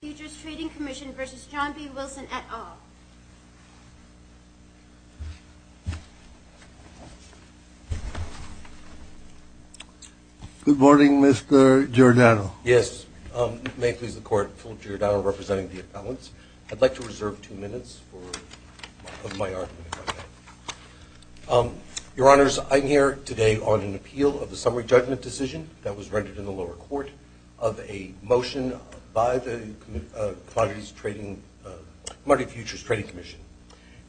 Futures Trading Commission v. John B. Wilson, et al. Good morning, Mr. Giordano. Yes. May it please the Court, Philip Giordano representing the appellants. I'd like to reserve two minutes for my argument. Your Honors, I'm here today on an appeal of the summary judgment decision that was rendered in the lower court of a motion by the Commodity Futures Trading Commission.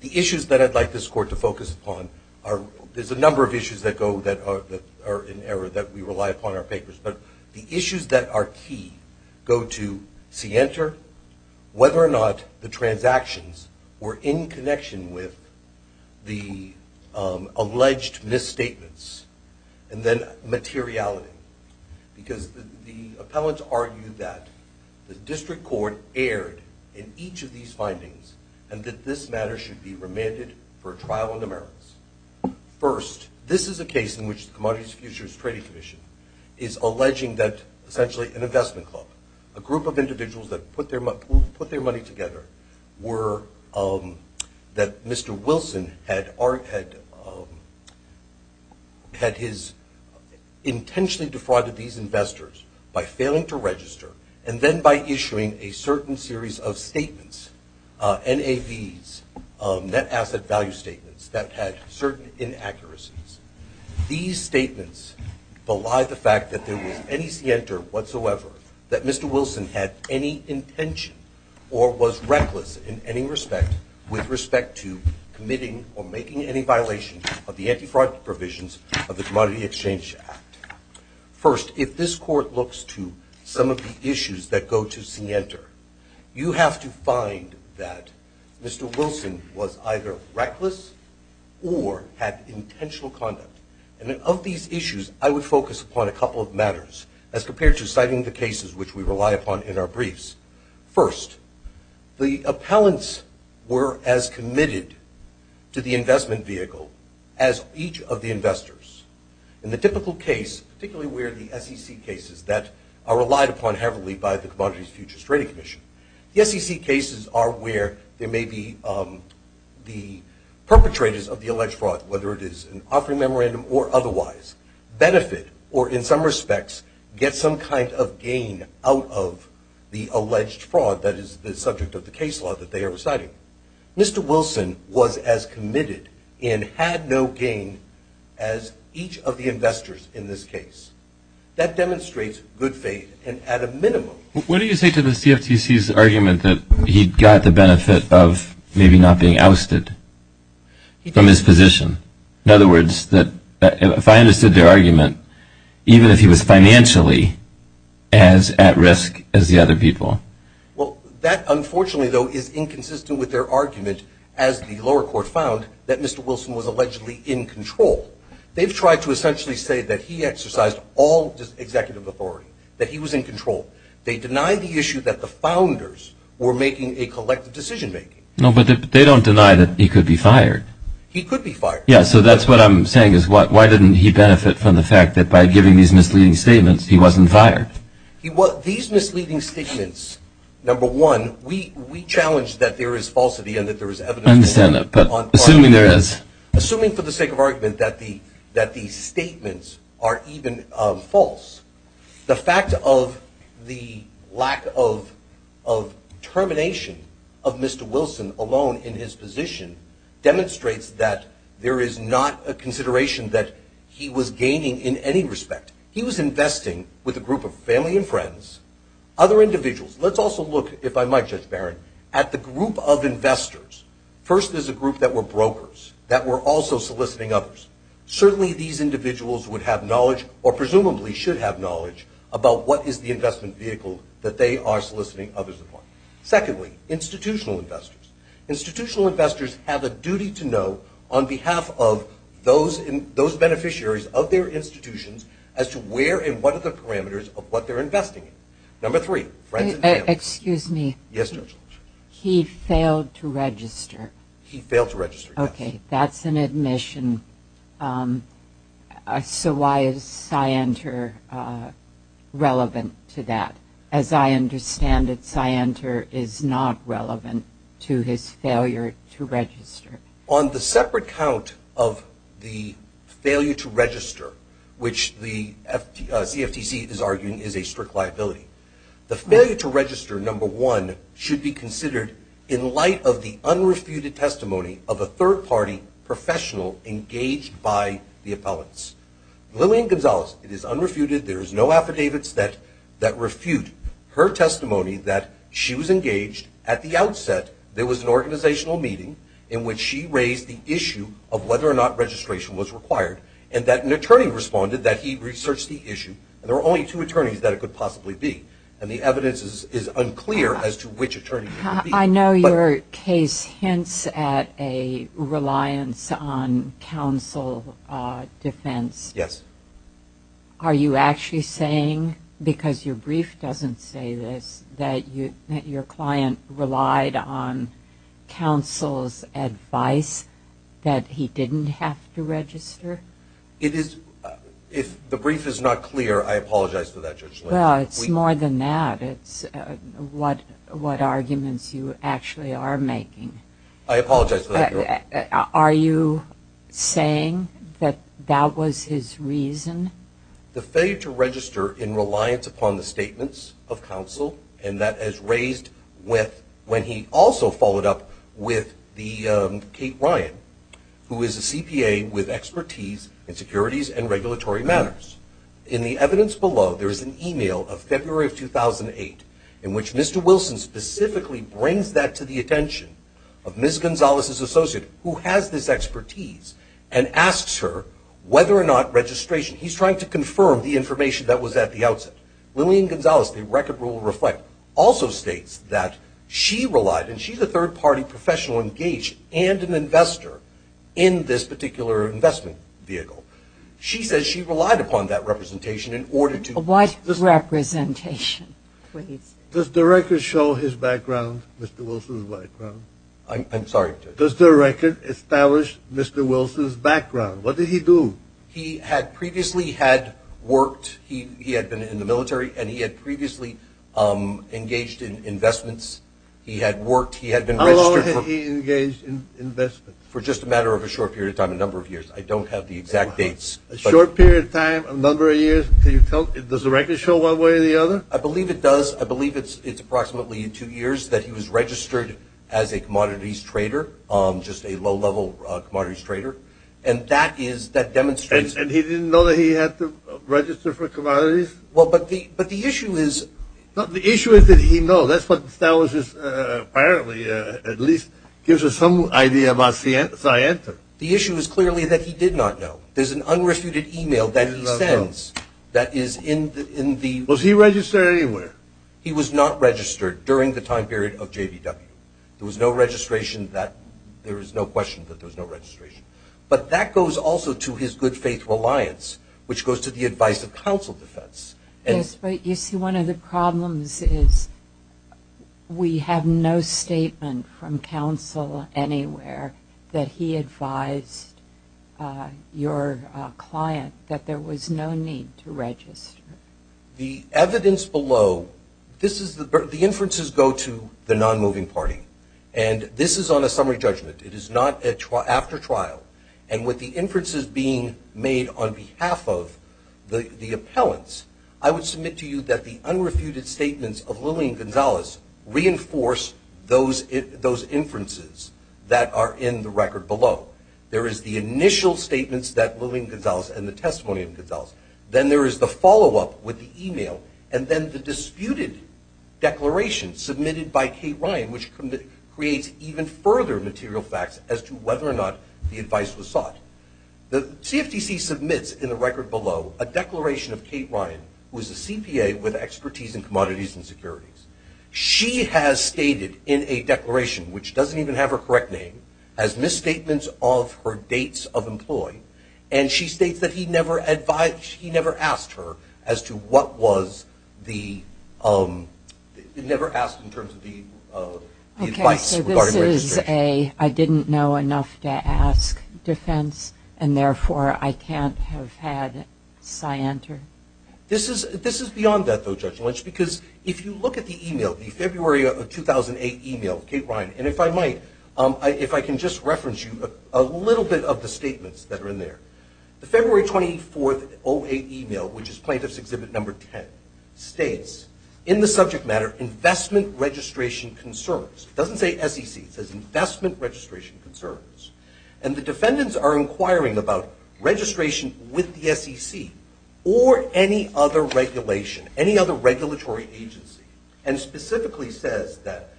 The issues that I'd like this Court to focus upon are, there's a number of issues that go that are in error that we rely upon in our papers, but the issues that are key go to see enter whether or not the transactions were in connection with the alleged misstatements. And then materiality. Because the appellants argue that the district court erred in each of these findings and that this matter should be remanded for trial in the merits. First, this is a case in which the Commodity Futures Trading Commission is alleging that essentially an investment club, a group of individuals that put their money together, that Mr. Wilson had intentionally defrauded these investors by failing to register and then by issuing a certain series of statements, NAVs, net asset value statements, that had certain inaccuracies. These statements belie the fact that there was any see enter whatsoever, that Mr. Wilson had any intention or was reckless in any respect with respect to committing or making any violation of the anti-fraud provisions of the Commodity Exchange Act. First, if this Court looks to some of the issues that go to see enter, you have to find that Mr. Wilson was either reckless or had intentional conduct. And of these issues, I would focus upon a couple of matters. As compared to citing the cases which we rely upon in our briefs, first, the appellants were as committed to the investment vehicle as each of the investors. In the typical case, particularly where the SEC cases that are relied upon heavily by the Commodity Futures Trading Commission, the SEC cases are where there may be the perpetrators of the alleged fraud, whether it is an offering memorandum or otherwise, benefit or, in some respects, get some kind of gain out of the alleged fraud that is the subject of the case law that they are reciting. Mr. Wilson was as committed and had no gain as each of the investors in this case. That demonstrates good faith, and at a minimum. What do you say to the CFTC's argument that he got the benefit of maybe not being ousted from his position? In other words, if I understood their argument, even if he was financially as at risk as the other people? Well, that, unfortunately, though, is inconsistent with their argument, as the lower court found, that Mr. Wilson was allegedly in control. They've tried to essentially say that he exercised all executive authority, that he was in control. They deny the issue that the founders were making a collective decision-making. No, but they don't deny that he could be fired. He could be fired. Yeah, so that's what I'm saying is, why didn't he benefit from the fact that by giving these misleading statements, he wasn't fired? These misleading statements, number one, we challenge that there is falsity and that there is evidence. I understand that, but assuming there is. Assuming, for the sake of argument, that these statements are even false, the fact of the lack of determination of Mr. Wilson alone in his position demonstrates that there is not a consideration that he was gaining in any respect. He was investing with a group of family and friends, other individuals. Let's also look, if I might, Judge Barron, at the group of investors. First, there's a group that were brokers, that were also soliciting others. Certainly, these individuals would have knowledge, or presumably should have knowledge, about what is the investment vehicle that they are soliciting others upon. Secondly, institutional investors. Institutional investors have a duty to know, on behalf of those beneficiaries of their institutions, as to where and what are the parameters of what they're investing in. Number three, friends and family. Excuse me. Yes, Judge. He failed to register. He failed to register, yes. Okay, that's an admission. So why is SciENter relevant to that? As I understand it, SciENter is not relevant to his failure to register. On the separate count of the failure to register, which the CFTC is arguing is a strict liability, the failure to register, number one, should be considered in light of the unrefuted testimony of a third-party professional engaged by the appellants. Lillian Gonzales, it is unrefuted, there is no affidavits that refute her testimony that she was engaged. At the outset, there was an organizational meeting in which she raised the issue of whether or not registration was required, and that an attorney responded that he researched the issue. There were only two attorneys that it could possibly be, and the evidence is unclear as to which attorney it could be. I know your case hints at a reliance on counsel defense. Yes. Are you actually saying, because your brief doesn't say this, that your client relied on counsel's advice that he didn't have to register? If the brief is not clear, I apologize for that, Judge Lillian. Well, it's more than that. It's what arguments you actually are making. I apologize for that, Judge. Are you saying that that was his reason? The failure to register in reliance upon the statements of counsel, and that is raised when he also followed up with Kate Ryan, who is a CPA with expertise in securities and regulatory matters. In the evidence below, there is an email of February of 2008, in which Mr. Wilson specifically brings that to the attention of Ms. Gonzalez's associate, who has this expertise, and asks her whether or not registration, he's trying to confirm the information that was at the outset. Lillian Gonzalez, the record will reflect, also states that she relied, and she's a third-party professional engaged and an investor in this particular investment vehicle. She says she relied upon that representation in order to. What representation, please? Does the record show his background, Mr. Wilson's background? I'm sorry, Judge. Does the record establish Mr. Wilson's background? What did he do? He had previously had worked. He had been in the military, and he had previously engaged in investments. He had worked. He had been registered. How long had he engaged in investments? For just a matter of a short period of time, a number of years. I don't have the exact dates. A short period of time, a number of years? Can you tell? Does the record show one way or the other? I believe it does. I believe it's approximately two years that he was registered as a commodities trader, just a low-level commodities trader. And that is, that demonstrates. And he didn't know that he had to register for commodities? Well, but the issue is. No, the issue is that he knows. That's what establishes, apparently, at least gives us some idea about scienter. The issue is clearly that he did not know. There's an unrefuted e-mail that he sends that is in the... Was he registered anywhere? He was not registered during the time period of JVW. There was no registration that... There is no question that there was no registration. But that goes also to his good faith reliance, which goes to the advice of counsel defense. Yes, but you see, one of the problems is we have no statement from counsel anywhere that he advised your client that there was no need to register. The evidence below, the inferences go to the non-moving party. And this is on a summary judgment. It is not after trial. And with the inferences being made on behalf of the appellants, I would submit to you that the unrefuted statements of Lillian Gonzalez reinforce those inferences that are in the record below. There is the initial statements that Lillian Gonzalez and the testimony of Gonzalez. Then there is the follow-up with the e-mail. And then the disputed declaration submitted by Kate Ryan, which creates even further material facts as to whether or not the advice was sought. The CFTC submits in the record below a declaration of Kate Ryan, who is a CPA with expertise in commodities and securities. She has stated in a declaration, which doesn't even have her correct name, as misstatements of her dates of employ. And she states that he never asked her as to what was the advice regarding registration. Okay, so this is a I didn't know enough to ask defense, and therefore I can't have had cyanter. This is beyond that, though, Judge Lynch, because if you look at the e-mail, the February of 2008 e-mail of Kate Ryan, and if I might, if I can just reference you a little bit of the statements that are in there. The February 24, 2008 e-mail, which is Plaintiff's Exhibit No. 10, states in the subject matter investment registration concerns. It doesn't say SEC. It says investment registration concerns. And the defendants are inquiring about registration with the SEC or any other regulation, any other regulatory agency, and specifically says that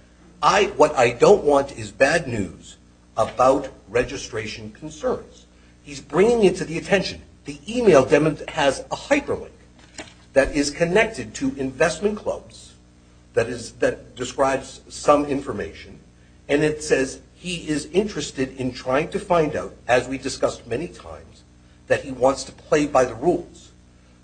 what I don't want is bad news about registration concerns. He's bringing it to the attention. The e-mail has a hyperlink that is connected to investment clubs that describes some information, and it says he is interested in trying to find out, as we discussed many times, that he wants to play by the rules.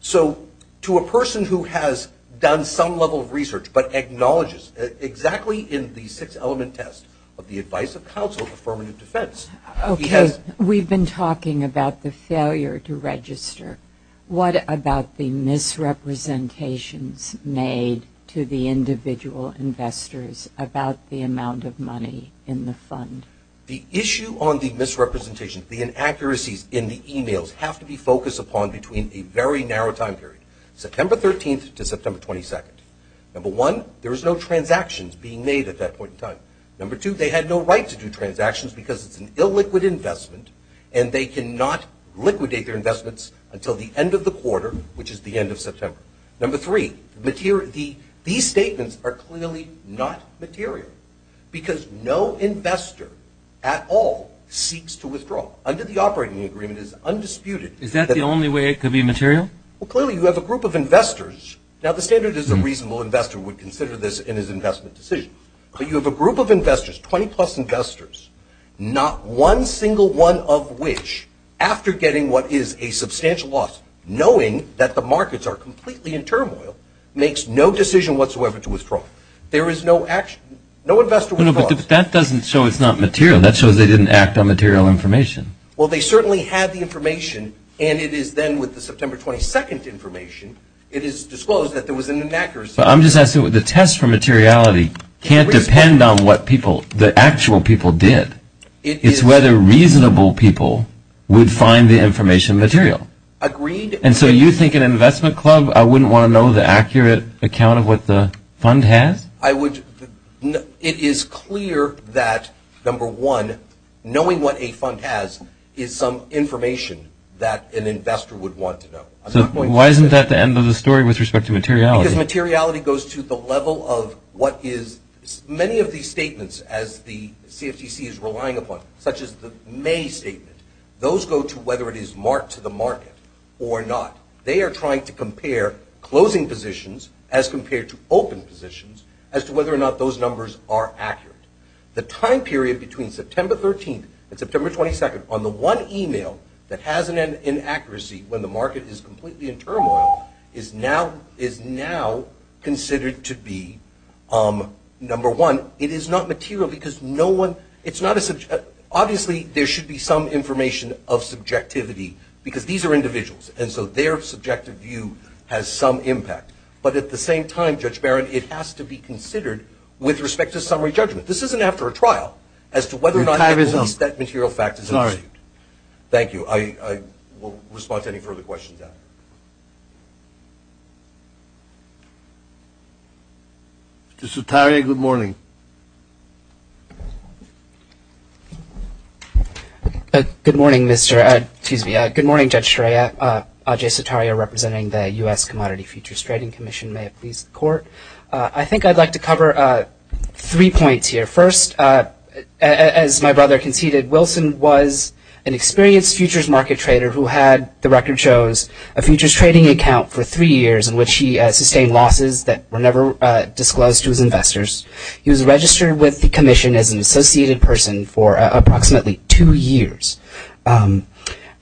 So to a person who has done some level of research but acknowledges exactly in the six-element test of the Advice of Counsel Affirmative Defense. Okay. We've been talking about the failure to register. What about the misrepresentations made to the individual investors about the amount of money in the fund? The issue on the misrepresentations, the inaccuracies in the e-mails, have to be focused upon between a very narrow time period, September 13th to September 22nd. Number one, there is no transactions being made at that point in time. Number two, they had no right to do transactions because it's an illiquid investment, and they cannot liquidate their investments until the end of the quarter, which is the end of September. Number three, these statements are clearly not material because no investor at all seeks to withdraw. Under the operating agreement, it is undisputed. Is that the only way it could be material? Well, clearly, you have a group of investors. Now, the standard is a reasonable investor would consider this in his investment decision. But you have a group of investors, 20-plus investors, not one single one of which, after getting what is a substantial loss, knowing that the markets are completely in turmoil, makes no decision whatsoever to withdraw. There is no investor withdrawal. No, no, but that doesn't show it's not material. That shows they didn't act on material information. Well, they certainly had the information, and it is then with the September 22nd information, it is disclosed that there was an inaccuracy. But I'm just asking, the test for materiality can't depend on what people, the actual people did. It's whether reasonable people would find the information material. Agreed. And so you think in an investment club, I wouldn't want to know the accurate account of what the fund has? It is clear that, number one, knowing what a fund has is some information that an investor would want to know. So why isn't that the end of the story with respect to materiality? Because materiality goes to the level of what is – many of these statements, as the CFTC is relying upon, such as the May statement, those go to whether it is marked to the market or not. They are trying to compare closing positions as compared to open positions as to whether or not those numbers are accurate. The time period between September 13th and September 22nd on the one email that has an inaccuracy when the market is completely in turmoil is now considered to be, number one, it is not material because no one – it's not a – obviously there should be some information of subjectivity because these are individuals. And so their subjective view has some impact. But at the same time, Judge Barron, it has to be considered with respect to summary judgment. This isn't after a trial as to whether or not at least that material fact is understood. Thank you. I will respond to any further questions. Mr. Sutaria, good morning. Good morning, Mr. – excuse me. Good morning, Judge Shiraia. Ajay Sutaria representing the U.S. Commodity Futures Trading Commission. May it please the Court. I think I'd like to cover three points here. First, as my brother conceded, Wilson was an experienced futures market trader who had, the record shows, a futures trading account for three years in which he sustained losses that were never disclosed to his investors. He was registered with the commission as an associated person for approximately two years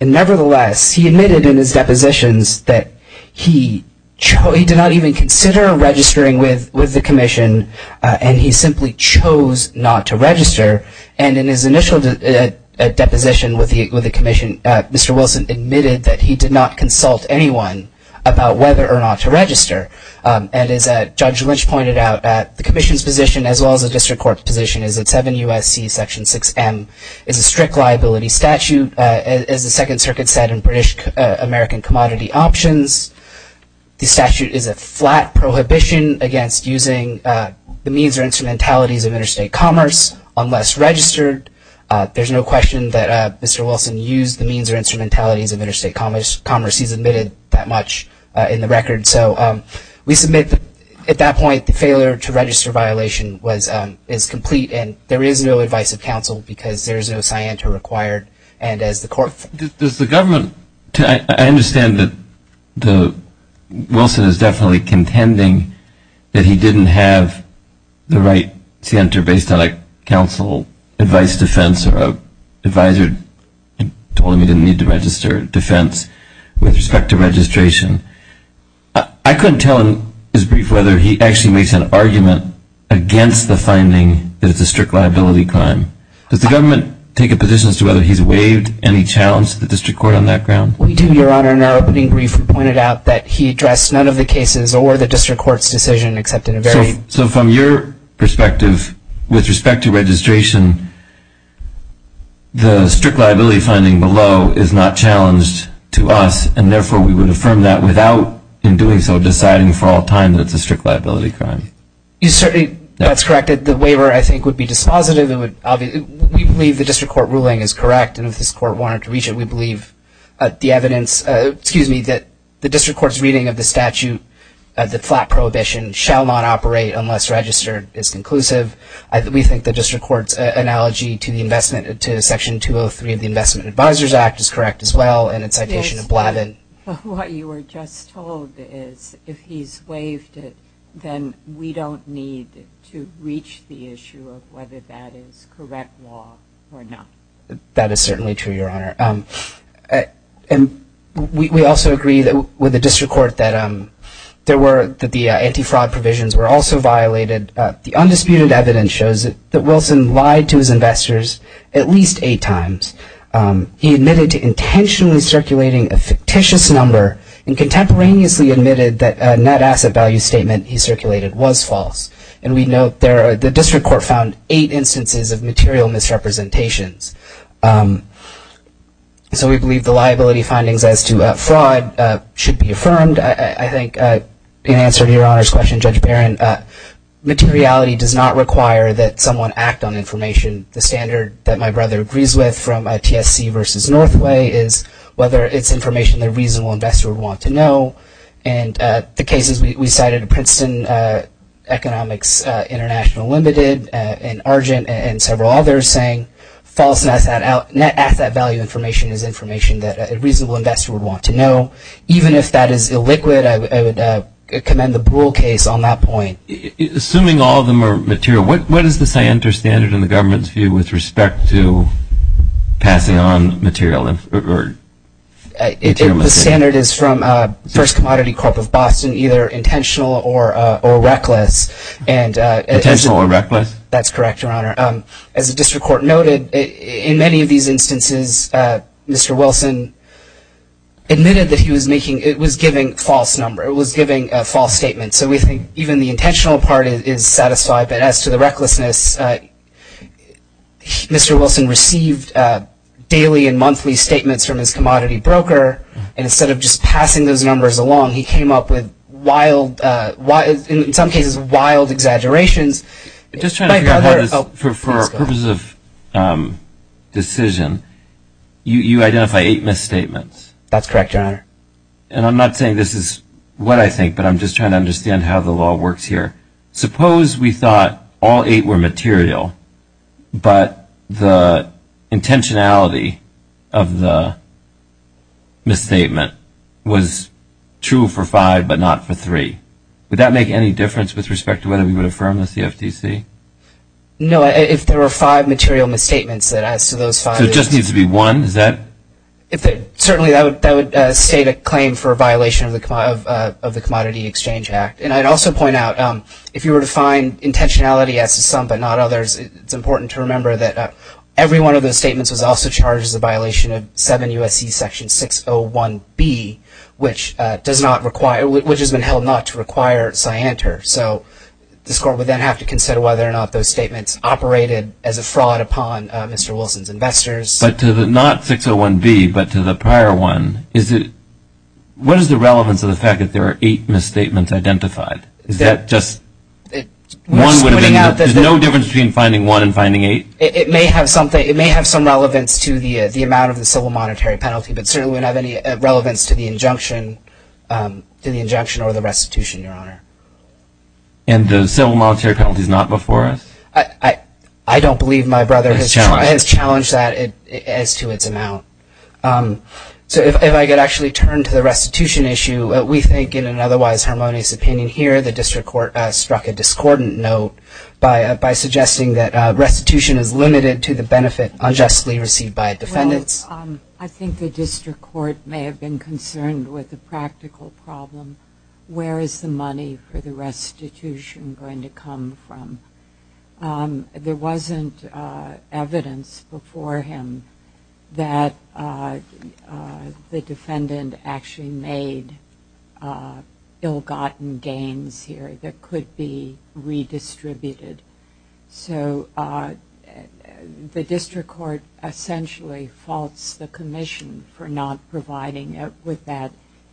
and nevertheless, he admitted in his depositions that he did not even consider registering with the commission and he simply chose not to register. And in his initial deposition with the commission, Mr. Wilson admitted that he did not consult anyone about whether or not to register. And as Judge Lynch pointed out, the commission's position as well as the district court's position is that 7 U.S.C. Section 6M is a strict liability statute. As the Second Circuit said in British American Commodity Options, the statute is a flat prohibition against using the means or instrumentalities of interstate commerce unless registered. There's no question that Mr. Wilson used the means or instrumentalities of interstate commerce. He's admitted that much in the record. So we submit at that point the failure to register violation is complete and there is no advice of counsel because there is no scienter required and as the court- Does the government, I understand that Wilson is definitely contending that he didn't have the right scienter based on a counsel advice defense or an advisor told him he didn't need to register defense with respect to registration. I couldn't tell in his brief whether he actually makes an argument against the finding that it's a strict liability crime. Does the government take a position as to whether he's waived any challenge to the district court on that ground? We do, Your Honor. In our opening brief, we pointed out that he addressed none of the cases or the district court's decision except in a very- So from your perspective, with respect to registration, the strict liability finding below is not challenged to us and therefore we would affirm that without in doing so deciding for all time that it's a strict liability crime. That's correct. The waiver, I think, would be dispositive. We believe the district court ruling is correct and if this court wanted to reach it, we believe the evidence- excuse me- that the district court's reading of the statute, the flat prohibition shall not operate unless registered is conclusive. We think the district court's analogy to the investment- to Section 203 of the Investment Advisors Act is correct as well and it's citation of Blavin. Yes, but what you were just told is if he's waived it, then we don't need to reach the issue of whether that is correct law or not. That is certainly true, Your Honor. And we also agree with the district court that the anti-fraud provisions were also violated. The undisputed evidence shows that Wilson lied to his investors at least eight times. He admitted to intentionally circulating a fictitious number and contemporaneously admitted that a net asset value statement he circulated was false. And we note the district court found eight instances of material misrepresentations. So we believe the liability findings as to fraud should be affirmed. I think in answer to Your Honor's question, Judge Barron, materiality does not require that someone act on information. The standard that my brother agrees with from TSC versus Northway is whether it's information that a reasonable investor would want to know. And the cases we cited, Princeton Economics International Limited and Argent and several others saying false net asset value information is information that a reasonable investor would want to know. Even if that is illiquid, I would commend the Brule case on that point. Assuming all of them are material, what is the standard in the government's view with respect to passing on material? The standard is from First Commodity Corp of Boston, either intentional or reckless. Intentional or reckless? That's correct, Your Honor. As the district court noted, in many of these instances, Mr. Wilson admitted that he was giving a false number. It was giving a false statement. So we think even the intentional part is satisfied. But as to the recklessness, Mr. Wilson received daily and monthly statements from his commodity broker, and instead of just passing those numbers along, he came up with, in some cases, wild exaggerations. For purposes of decision, you identify eight misstatements. That's correct, Your Honor. And I'm not saying this is what I think, but I'm just trying to understand how the law works here. Suppose we thought all eight were material, but the intentionality of the misstatement was true for five but not for three. Would that make any difference with respect to whether we would affirm the CFTC? No. If there were five material misstatements, then as to those five… So it just needs to be one? Certainly, that would state a claim for a violation of the Commodity Exchange Act. And I'd also point out, if you were to find intentionality as to some but not others, it's important to remember that every one of those statements was also charged as a violation of 7 U.S.C. Section 601B, which has been held not to require cianter. So this Court would then have to consider whether or not those statements operated as a fraud upon Mr. Wilson's investors. But to the not 601B, but to the prior one, what is the relevance of the fact that there are eight misstatements identified? Is that just one would have been… We're splitting out… There's no difference between finding one and finding eight? It may have some relevance to the amount of the civil monetary penalty, but certainly wouldn't have any relevance to the injunction or the restitution, Your Honor. And the civil monetary penalty is not before us? I don't believe my brother has challenged that as to its amount. So if I could actually turn to the restitution issue, we think in an otherwise harmonious opinion here the District Court struck a discordant note by suggesting that restitution is limited to the benefit unjustly received by defendants. I think the District Court may have been concerned with the practical problem. Where is the money for the restitution going to come from? There wasn't evidence before him that the defendant actually made ill-gotten gains here that could be redistributed. So the District Court essentially faults the Commission for not providing it with that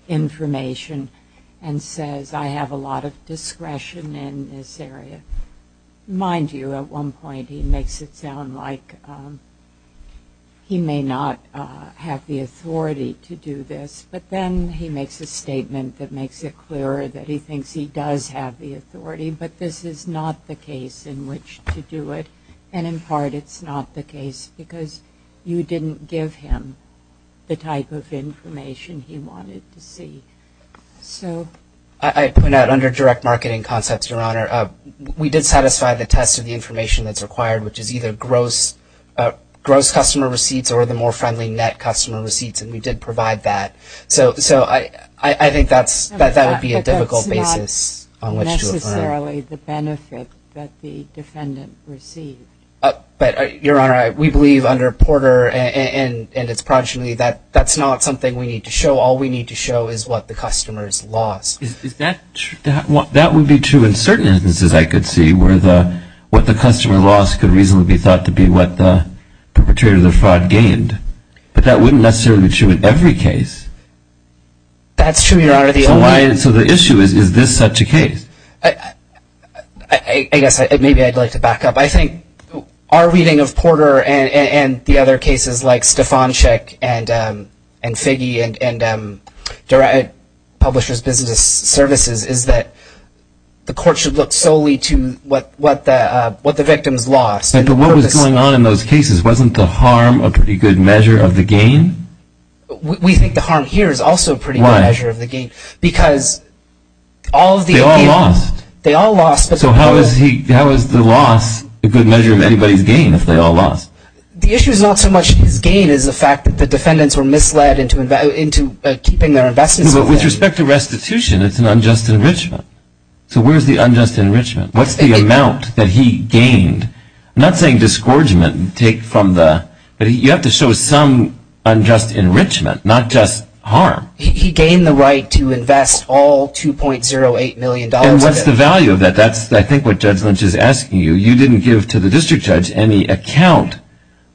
information and says I have a lot of discretion in this area. Mind you, at one point he makes it sound like he may not have the authority to do this, but then he makes a statement that makes it clearer that he thinks he does have the authority, but this is not the case in which to do it. And in part it's not the case because you didn't give him the type of information he wanted to see. I'd point out under direct marketing concepts, Your Honor, we did satisfy the test of the information that's required, which is either gross customer receipts or the more friendly net customer receipts, and we did provide that. So I think that would be a difficult basis on which to affirm. But that's not necessarily the benefit that the defendant received. But, Your Honor, we believe under Porter and its progeny that that's not something we need to show. All we need to show is what the customers lost. That would be true in certain instances, I could see, where what the customer lost could reasonably be thought to be what the perpetrator of the fraud gained. But that wouldn't necessarily be true in every case. That's true, Your Honor. So the issue is, is this such a case? I guess maybe I'd like to back up. I think our reading of Porter and the other cases like Stefanczyk and Figge and Publishers Business Services is that the court should look solely to what the victim's lost. Right, but what was going on in those cases? Wasn't the harm a pretty good measure of the gain? We think the harm here is also a pretty good measure of the gain. Why? Because all of the gain. They all lost. They all lost. So how is the loss a good measure of anybody's gain if they all lost? The issue is not so much his gain as the fact that the defendants were misled into keeping their investments. But with respect to restitution, it's an unjust enrichment. So where's the unjust enrichment? What's the amount that he gained? I'm not saying disgorgement. You have to show some unjust enrichment, not just harm. He gained the right to invest all $2.08 million. And what's the value of that? That's, I think, what Judge Lynch is asking you. You didn't give to the district judge any account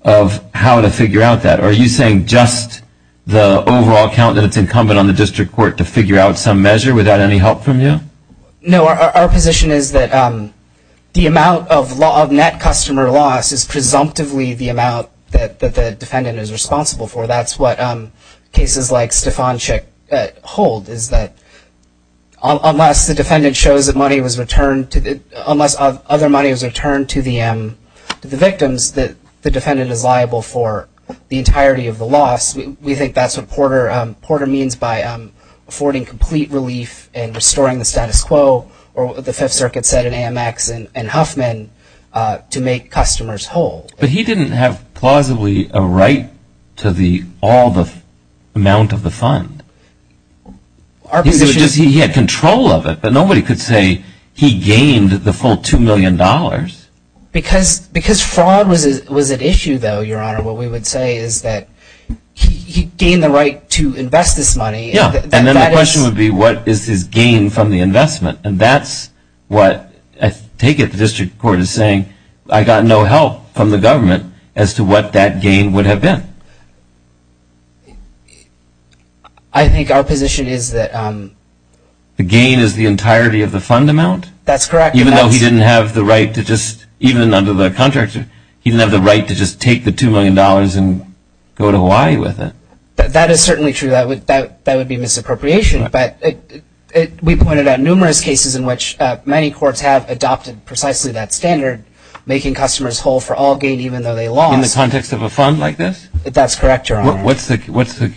of how to figure out that. Are you saying just the overall count that it's incumbent on the district court to figure out some measure without any help from you? No. Our position is that the amount of net customer loss is presumptively the amount that the defendant is responsible for. That's what cases like Stefanczyk hold, is that unless the defendant shows that money was returned to the victims, the defendant is liable for the entirety of the loss. We think that's what Porter means by affording complete relief and restoring the status quo, or what the Fifth Circuit said in Amex and Huffman, to make customers whole. But he didn't have plausibly a right to all the amount of the fund. He had control of it, but nobody could say he gained the full $2 million. Because fraud was at issue, though, Your Honor. What we would say is that he gained the right to invest this money. Yeah. And then the question would be, what is his gain from the investment? And that's what I take it the district court is saying, I got no help from the government as to what that gain would have been. I think our position is that... The gain is the entirety of the fund amount? That's correct. Even though he didn't have the right to just, even under the contract, he didn't have the right to just take the $2 million and go to Hawaii with it. That is certainly true. That would be misappropriation. But we pointed out numerous cases in which many courts have adopted precisely that standard, making customers whole for all gain, even though they lost. In the context of a fund like this? That's correct, Your Honor. What's the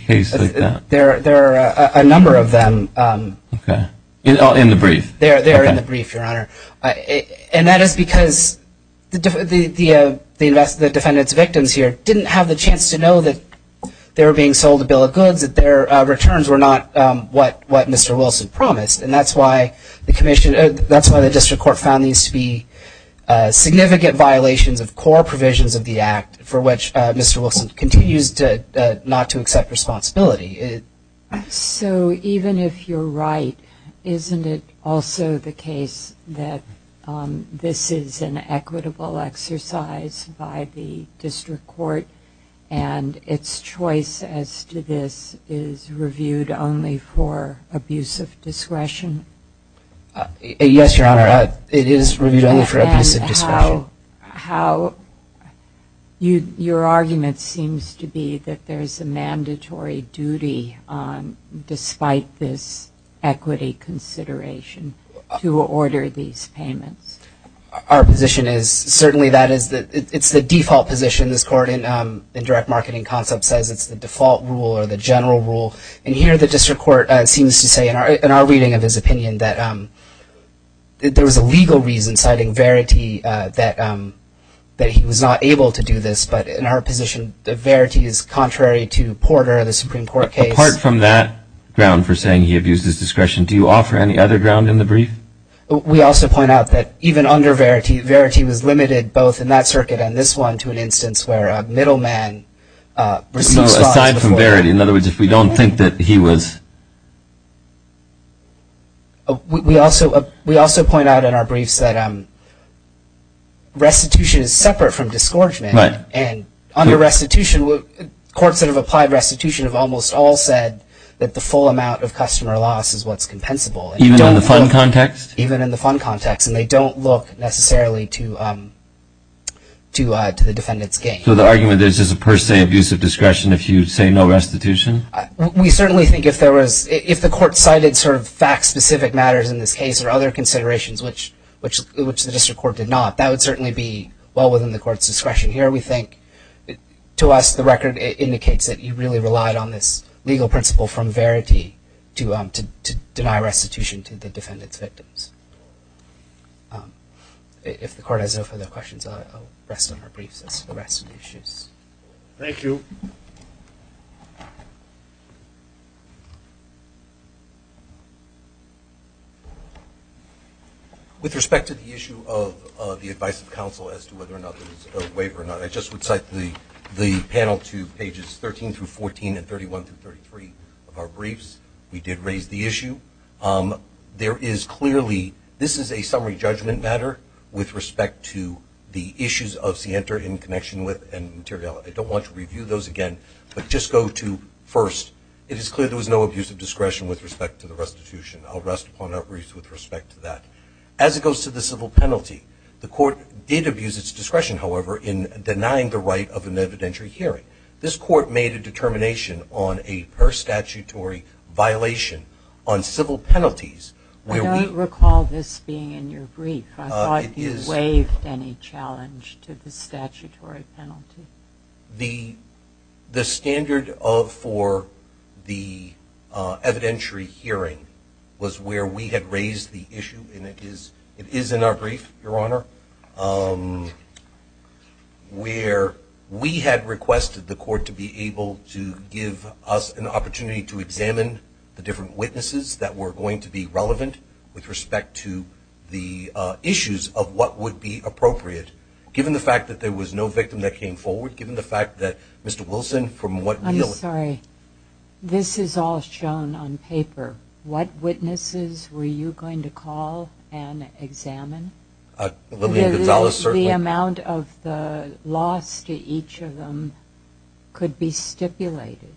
case like that? There are a number of them. In the brief? They're in the brief, Your Honor. And that is because the defendant's victims here didn't have the chance to know that they were being sold a bill of goods, that their returns were not what Mr. Wilson promised. And that's why the district court found these to be significant violations of core provisions of the act, for which Mr. Wilson continues not to accept responsibility. So even if you're right, isn't it also the case that this is an equitable exercise by the district court and its choice as to this is reviewed only for abuse of discretion? Yes, Your Honor. It is reviewed only for abuse of discretion. Your argument seems to be that there's a mandatory duty, despite this equity consideration, to order these payments. Our position is certainly that it's the default position. This court in direct marketing concept says it's the default rule or the general rule. And here the district court seems to say in our reading of his opinion that there was a legal reason, citing Verity, that he was not able to do this. But in our position, Verity is contrary to Porter, the Supreme Court case. Apart from that ground for saying he abused his discretion, do you offer any other ground in the brief? We also point out that even under Verity, Verity was limited, both in that circuit and this one, to an instance where a middleman received fraud. So aside from Verity. In other words, if we don't think that he was. We also point out in our briefs that restitution is separate from disgorgement. Right. And under restitution, courts that have applied restitution have almost all said that the full amount of customer loss is what's compensable. Even in the fund context? Even in the fund context. And they don't look necessarily to the defendant's gain. So the argument is there's a per se abuse of discretion if you say no restitution? We certainly think if the court cited sort of fact-specific matters in this case or other considerations, which the district court did not, that would certainly be well within the court's discretion. Here we think, to us, the record indicates that you really relied on this legal principle from Verity to deny restitution to the defendant's victims. If the court has no further questions, I'll rest on our briefs as to the rest of the issues. Thank you. With respect to the issue of the advice of counsel as to whether or not there's a waiver or not, I just would cite the panel to pages 13 through 14 and 31 through 33 of our briefs. We did raise the issue. There is clearly, this is a summary judgment matter with respect to the issues of CIANTR in connection with and material. I don't want to review those again, but just go to first. It is clear there was no abuse of discretion with respect to the restitution. I'll rest upon our briefs with respect to that. As it goes to the civil penalty, the court did abuse its discretion, however, in denying the right of an evidentiary hearing. This court made a determination on a per statutory violation on civil penalties. I don't recall this being in your brief. I thought you waived any challenge to the statutory penalty. The standard for the evidentiary hearing was where we had raised the issue, and it is in our brief, Your Honor, where we had requested the court to be able to give us an opportunity to examine the different witnesses that were going to be relevant with respect to the issues of what would be appropriate. Given the fact that there was no victim that came forward, given the fact that Mr. Wilson, from what we know... I'm sorry. This is all shown on paper. What witnesses were you going to call and examine? Lillian Gonzalez, certainly. The amount of the loss to each of them could be stipulated.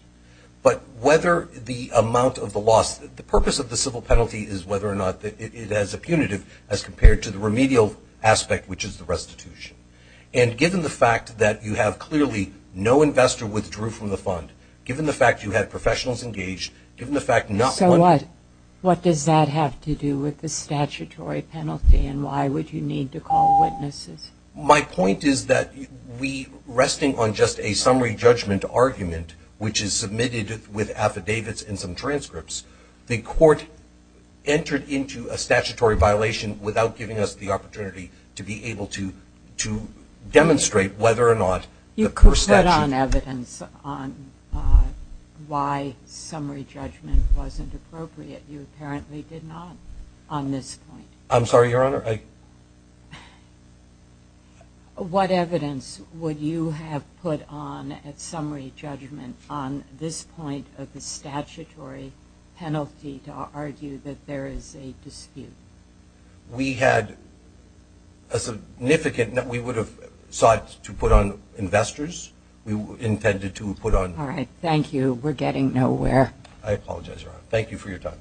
But whether the amount of the loss, the purpose of the civil penalty is whether or not it has a punitive as compared to the remedial aspect, which is the restitution. And given the fact that you have clearly no investor withdrew from the fund, given the fact you had professionals engaged, given the fact not one... Why would you need to call witnesses? My point is that we, resting on just a summary judgment argument, which is submitted with affidavits and some transcripts, the court entered into a statutory violation without giving us the opportunity to be able to demonstrate whether or not the first statute... You could put on evidence on why summary judgment wasn't appropriate. You apparently did not on this point. I'm sorry, Your Honor. What evidence would you have put on at summary judgment on this point of the statutory penalty to argue that there is a dispute? We had a significant... We would have sought to put on investors. We intended to put on... All right. Thank you. We're getting nowhere. I apologize, Your Honor. Thank you for your time.